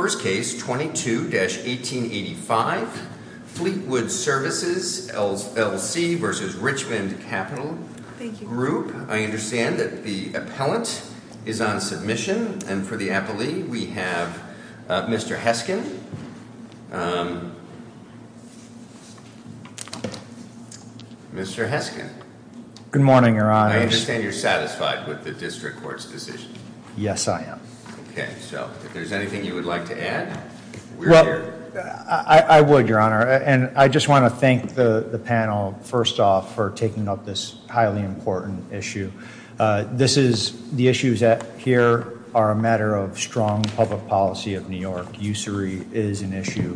First Case 22-1885 Fleetwood Services, LLC v. Richmond Capital Group I understand that the appellant is on submission and for the appellee we have Mr. Heskin Mr. Heskin Good morning, Your Honors I understand you're satisfied with the District Court's decision Yes, I am Okay, so if there's anything you would like to add, we're here I would, Your Honor, and I just want to thank the panel, first off, for taking up this highly important issue This is the issues that here are a matter of strong public policy of New York Usury is an issue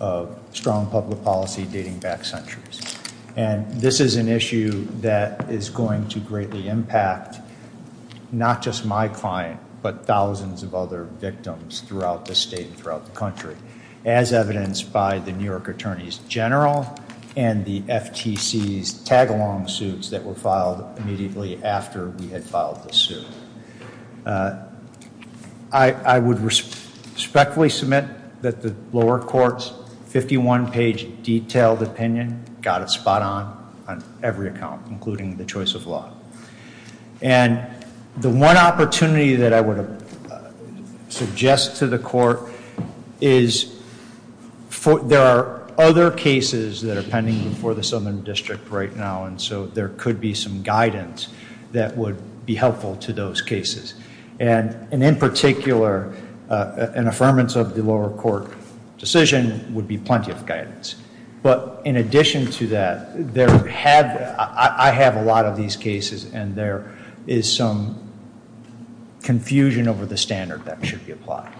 of strong public policy dating back centuries And this is an issue that is going to greatly impact not just my client, but thousands of other victims throughout the state and throughout the country As evidenced by the New York Attorney's General and the FTC's tag-along suits that were filed immediately after we had filed the suit I would respectfully submit that the lower court's 51-page detailed opinion got it spot-on on every account, including the choice of law And the one opportunity that I would suggest to the court is There are other cases that are pending before the Southern District right now, and so there could be some guidance that would be helpful to those cases And in particular, an affirmance of the lower court decision would be plenty of guidance But in addition to that, I have a lot of these cases, and there is some confusion over the standard that should be applied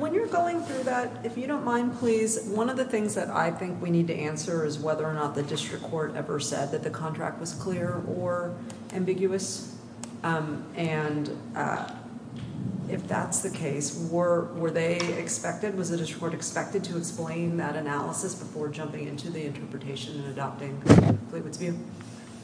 When you're going through that, if you don't mind, please One of the things that I think we need to answer is whether or not the district court ever said that the contract was clear or ambiguous And if that's the case, were they expected? Was the district court expected to explain that analysis before jumping into the interpretation and adopting Fleetwood's view?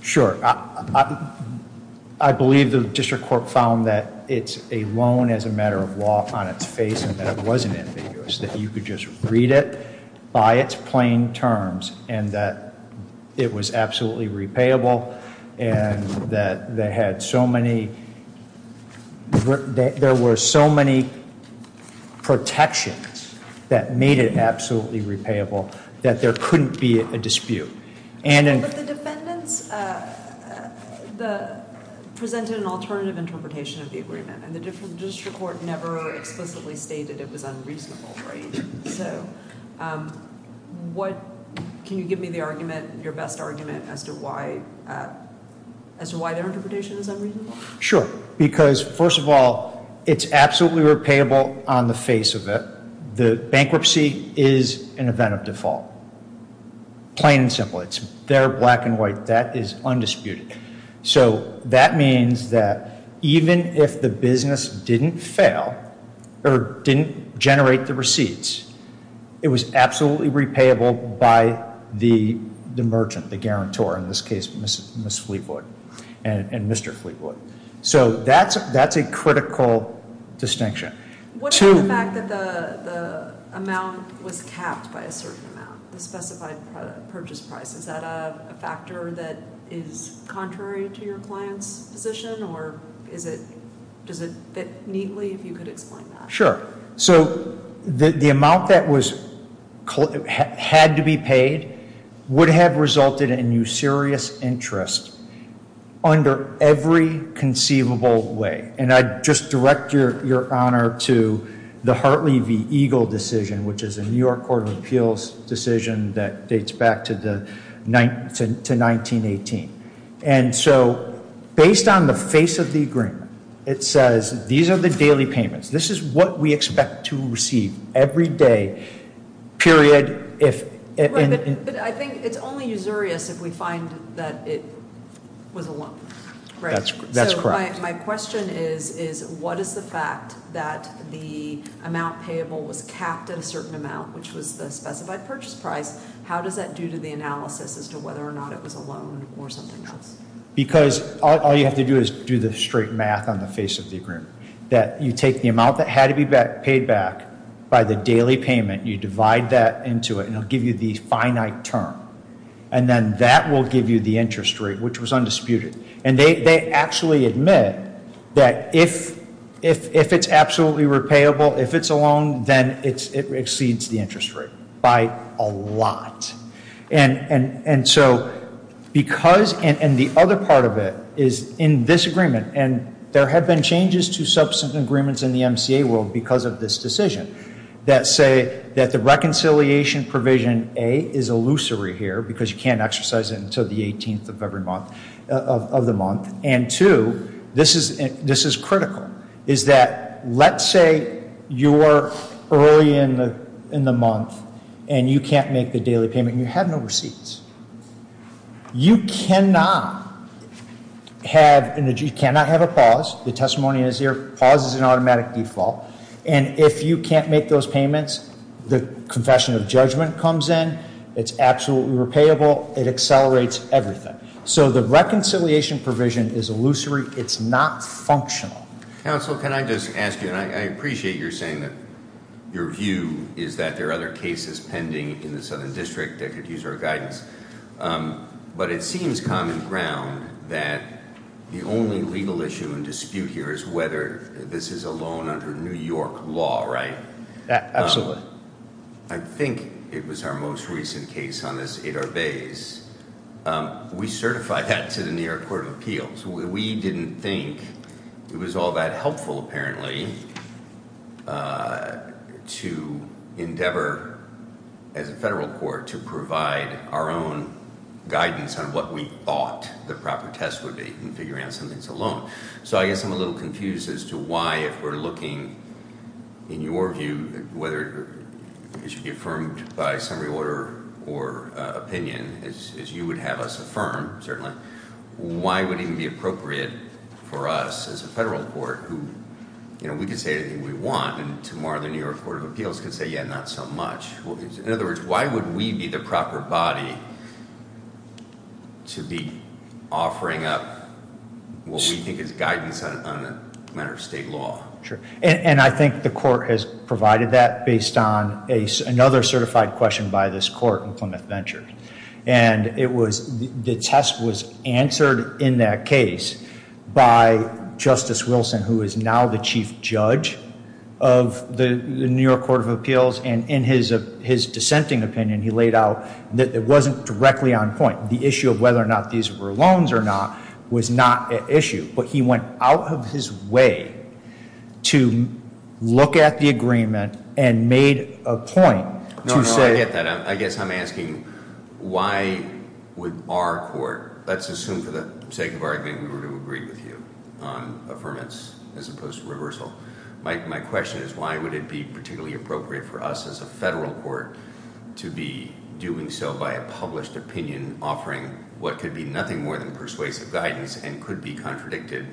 Sure, I believe the district court found that it's a loan as a matter of law on its face and that it wasn't ambiguous That you could just read it by its plain terms and that it was absolutely repayable And that they had so many, there were so many protections that made it absolutely repayable that there couldn't be a dispute But the defendants presented an alternative interpretation of the agreement And the district court never explicitly stated it was unreasonable, right? So can you give me your best argument as to why their interpretation is unreasonable? Sure, because first of all, it's absolutely repayable on the face of it The bankruptcy is an event of default, plain and simple They're black and white, that is undisputed So that means that even if the business didn't fail or didn't generate the receipts It was absolutely repayable by the merchant, the guarantor, in this case Ms. Fleetwood and Mr. Fleetwood So that's a critical distinction What about the fact that the amount was capped by a certain amount, the specified purchase price? Is that a factor that is contrary to your client's position or does it fit neatly if you could explain that? Sure, so the amount that had to be paid would have resulted in you serious interest under every conceivable way And I'd just direct your honor to the Hartley v. Eagle decision Which is a New York Court of Appeals decision that dates back to 1918 And so based on the face of the agreement, it says these are the daily payments This is what we expect to receive every day, period Right, but I think it's only usurious if we find that it was a lump So my question is, what is the fact that the amount payable was capped at a certain amount, which was the specified purchase price How does that do to the analysis as to whether or not it was a loan or something else? Because all you have to do is do the straight math on the face of the agreement That you take the amount that had to be paid back by the daily payment You divide that into it and it will give you the finite term And then that will give you the interest rate, which was undisputed And they actually admit that if it's absolutely repayable, if it's a loan, then it exceeds the interest rate by a lot And the other part of it is in this agreement And there have been changes to subsequent agreements in the MCA world because of this decision That say that the reconciliation provision A is illusory here because you can't exercise it until the 18th of the month And two, this is critical, is that let's say you're early in the month And you can't make the daily payment and you have no receipts You cannot have a pause, the testimony is there, pause is an automatic default And if you can't make those payments, the confession of judgment comes in It's absolutely repayable, it accelerates everything So the reconciliation provision is illusory, it's not functional Counsel, can I just ask you, and I appreciate your saying that Your view is that there are other cases pending in the Southern District that could use our guidance But it seems common ground that the only legal issue and dispute here is whether this is a loan under New York law, right? Absolutely I think it was our most recent case on this, Adar Bayes We certified that to the New York Court of Appeals We didn't think it was all that helpful apparently to endeavor as a federal court to provide our own guidance On what we thought the proper test would be in figuring out something that's a loan So I guess I'm a little confused as to why if we're looking, in your view Whether it should be affirmed by summary order or opinion, as you would have us affirm, certainly Why would it even be appropriate for us as a federal court who, you know, we can say anything we want And tomorrow the New York Court of Appeals can say, yeah, not so much In other words, why would we be the proper body to be offering up what we think is guidance on a matter of state law? And I think the court has provided that based on another certified question by this court in Plymouth Venture And the test was answered in that case by Justice Wilson, who is now the chief judge of the New York Court of Appeals And in his dissenting opinion, he laid out that it wasn't directly on point The issue of whether or not these were loans or not was not an issue But he went out of his way to look at the agreement and made a point to say I get that. I guess I'm asking why would our court, let's assume for the sake of argument we were to agree with you On affirmance as opposed to reversal My question is why would it be particularly appropriate for us as a federal court to be doing so by a published opinion Offering what could be nothing more than persuasive guidance and could be contradicted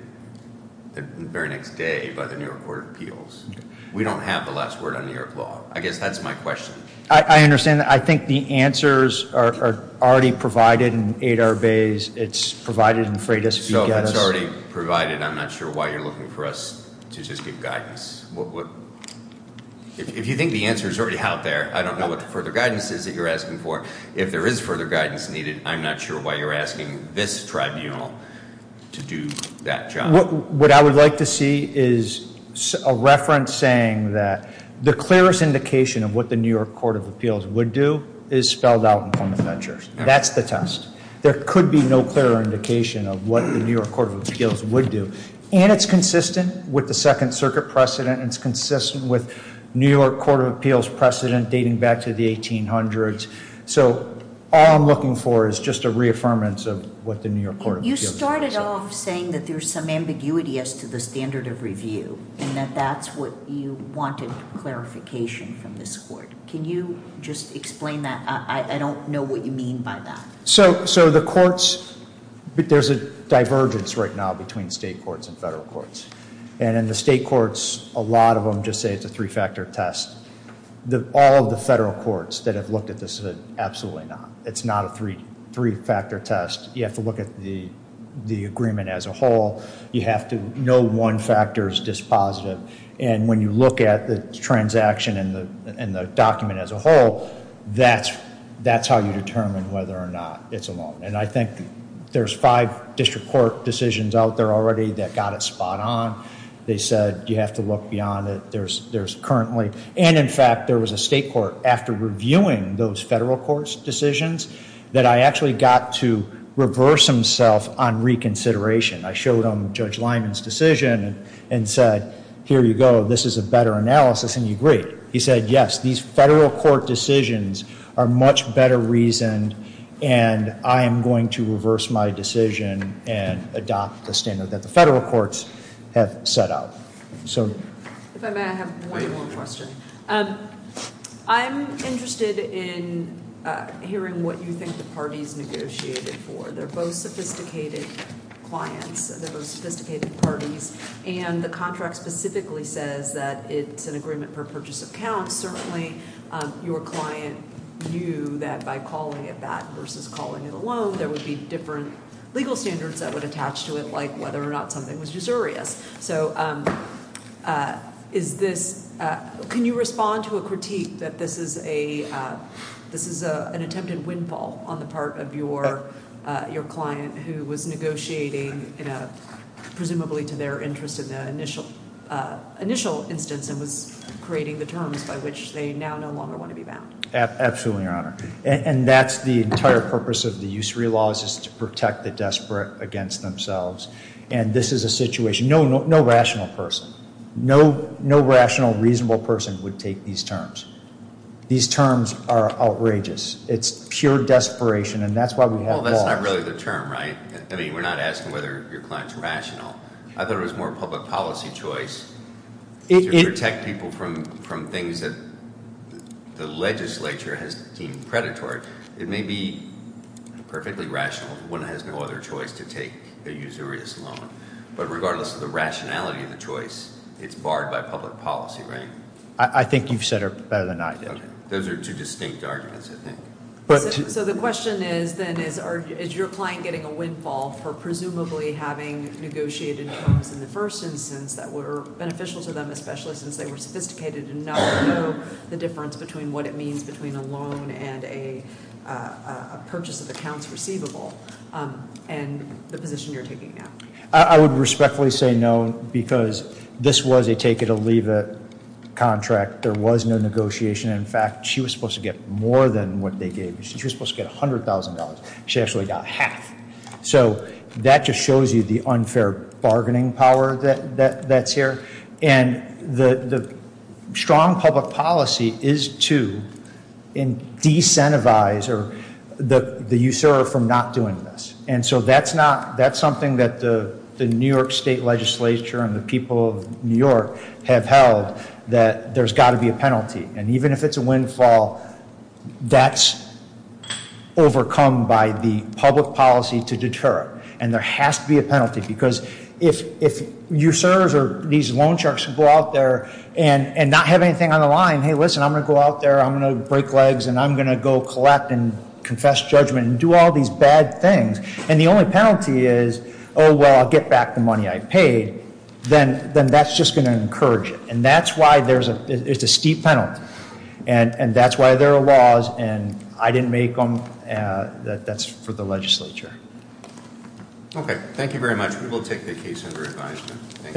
the very next day by the New York Court of Appeals We don't have the last word on New York law. I guess that's my question I understand. I think the answers are already provided in Adar Bay. It's provided in Freitas So it's already provided. I'm not sure why you're looking for us to just give guidance If you think the answer is already out there, I don't know what the further guidance is that you're asking for If there is further guidance needed, I'm not sure why you're asking this tribunal to do that job What I would like to see is a reference saying that the clearest indication of what the New York Court of Appeals would do Is spelled out in front of that judge. That's the test There could be no clearer indication of what the New York Court of Appeals would do And it's consistent with the Second Circuit precedent It's consistent with New York Court of Appeals precedent dating back to the 1800s So all I'm looking for is just a reaffirmance of what the New York Court of Appeals precedent You started off saying that there's some ambiguity as to the standard of review And that that's what you wanted clarification from this court Can you just explain that? I don't know what you mean by that So the courts, there's a divergence right now between state courts and federal courts And in the state courts, a lot of them just say it's a three-factor test All of the federal courts that have looked at this have said absolutely not It's not a three-factor test. You have to look at the agreement as a whole You have to know one factor is dispositive And when you look at the transaction and the document as a whole That's how you determine whether or not it's a loan And I think there's five district court decisions out there already that got it spot on They said you have to look beyond it And in fact, there was a state court after reviewing those federal court decisions That I actually got to reverse himself on reconsideration I showed him Judge Lyman's decision and said, here you go, this is a better analysis And he agreed. He said, yes, these federal court decisions are much better reasoned And I am going to reverse my decision and adopt the standard that the federal courts have set out If I may, I have one more question I'm interested in hearing what you think the parties negotiated for They're both sophisticated clients. They're both sophisticated parties And the contract specifically says that it's an agreement per purchase of accounts Certainly your client knew that by calling it that versus calling it a loan There would be different legal standards that would attach to it like whether or not something was usurious So can you respond to a critique that this is an attempted windfall on the part of your client Who was negotiating presumably to their interest in the initial instance And was creating the terms by which they now no longer want to be bound Absolutely, Your Honor. And that's the entire purpose of the use-free laws Is to protect the desperate against themselves And this is a situation, no rational person, no rational reasonable person would take these terms These terms are outrageous. It's pure desperation and that's why we have laws Well, that's not really the term, right? I mean, we're not asking whether your client's rational I thought it was more public policy choice to protect people from things that the legislature has deemed predatory It may be perfectly rational if one has no other choice to take a usurious loan But regardless of the rationality of the choice, it's barred by public policy, right? I think you've said it better than I did Those are two distinct arguments, I think So the question is then is your client getting a windfall for presumably having negotiated terms in the first instance That were beneficial to them especially since they were sophisticated And not know the difference between what it means between a loan and a purchase of accounts receivable And the position you're taking now I would respectfully say no because this was a take-it-or-leave-it contract There was no negotiation. In fact, she was supposed to get more than what they gave She was supposed to get $100,000. She actually got half So that just shows you the unfair bargaining power that's here And the strong public policy is to decentivize the usurer from not doing this And so that's something that the New York State Legislature and the people of New York have held That there's got to be a penalty And even if it's a windfall, that's overcome by the public policy to deter it And there has to be a penalty because if usurers or these loan sharks go out there And not have anything on the line, hey listen, I'm going to go out there, I'm going to break legs And I'm going to go collect and confess judgment and do all these bad things And the only penalty is, oh well, I'll get back the money I paid Then that's just going to encourage it And that's why there's a steep penalty And that's why there are laws and I didn't make them That's for the legislature Okay, thank you very much. We will take the case under advisement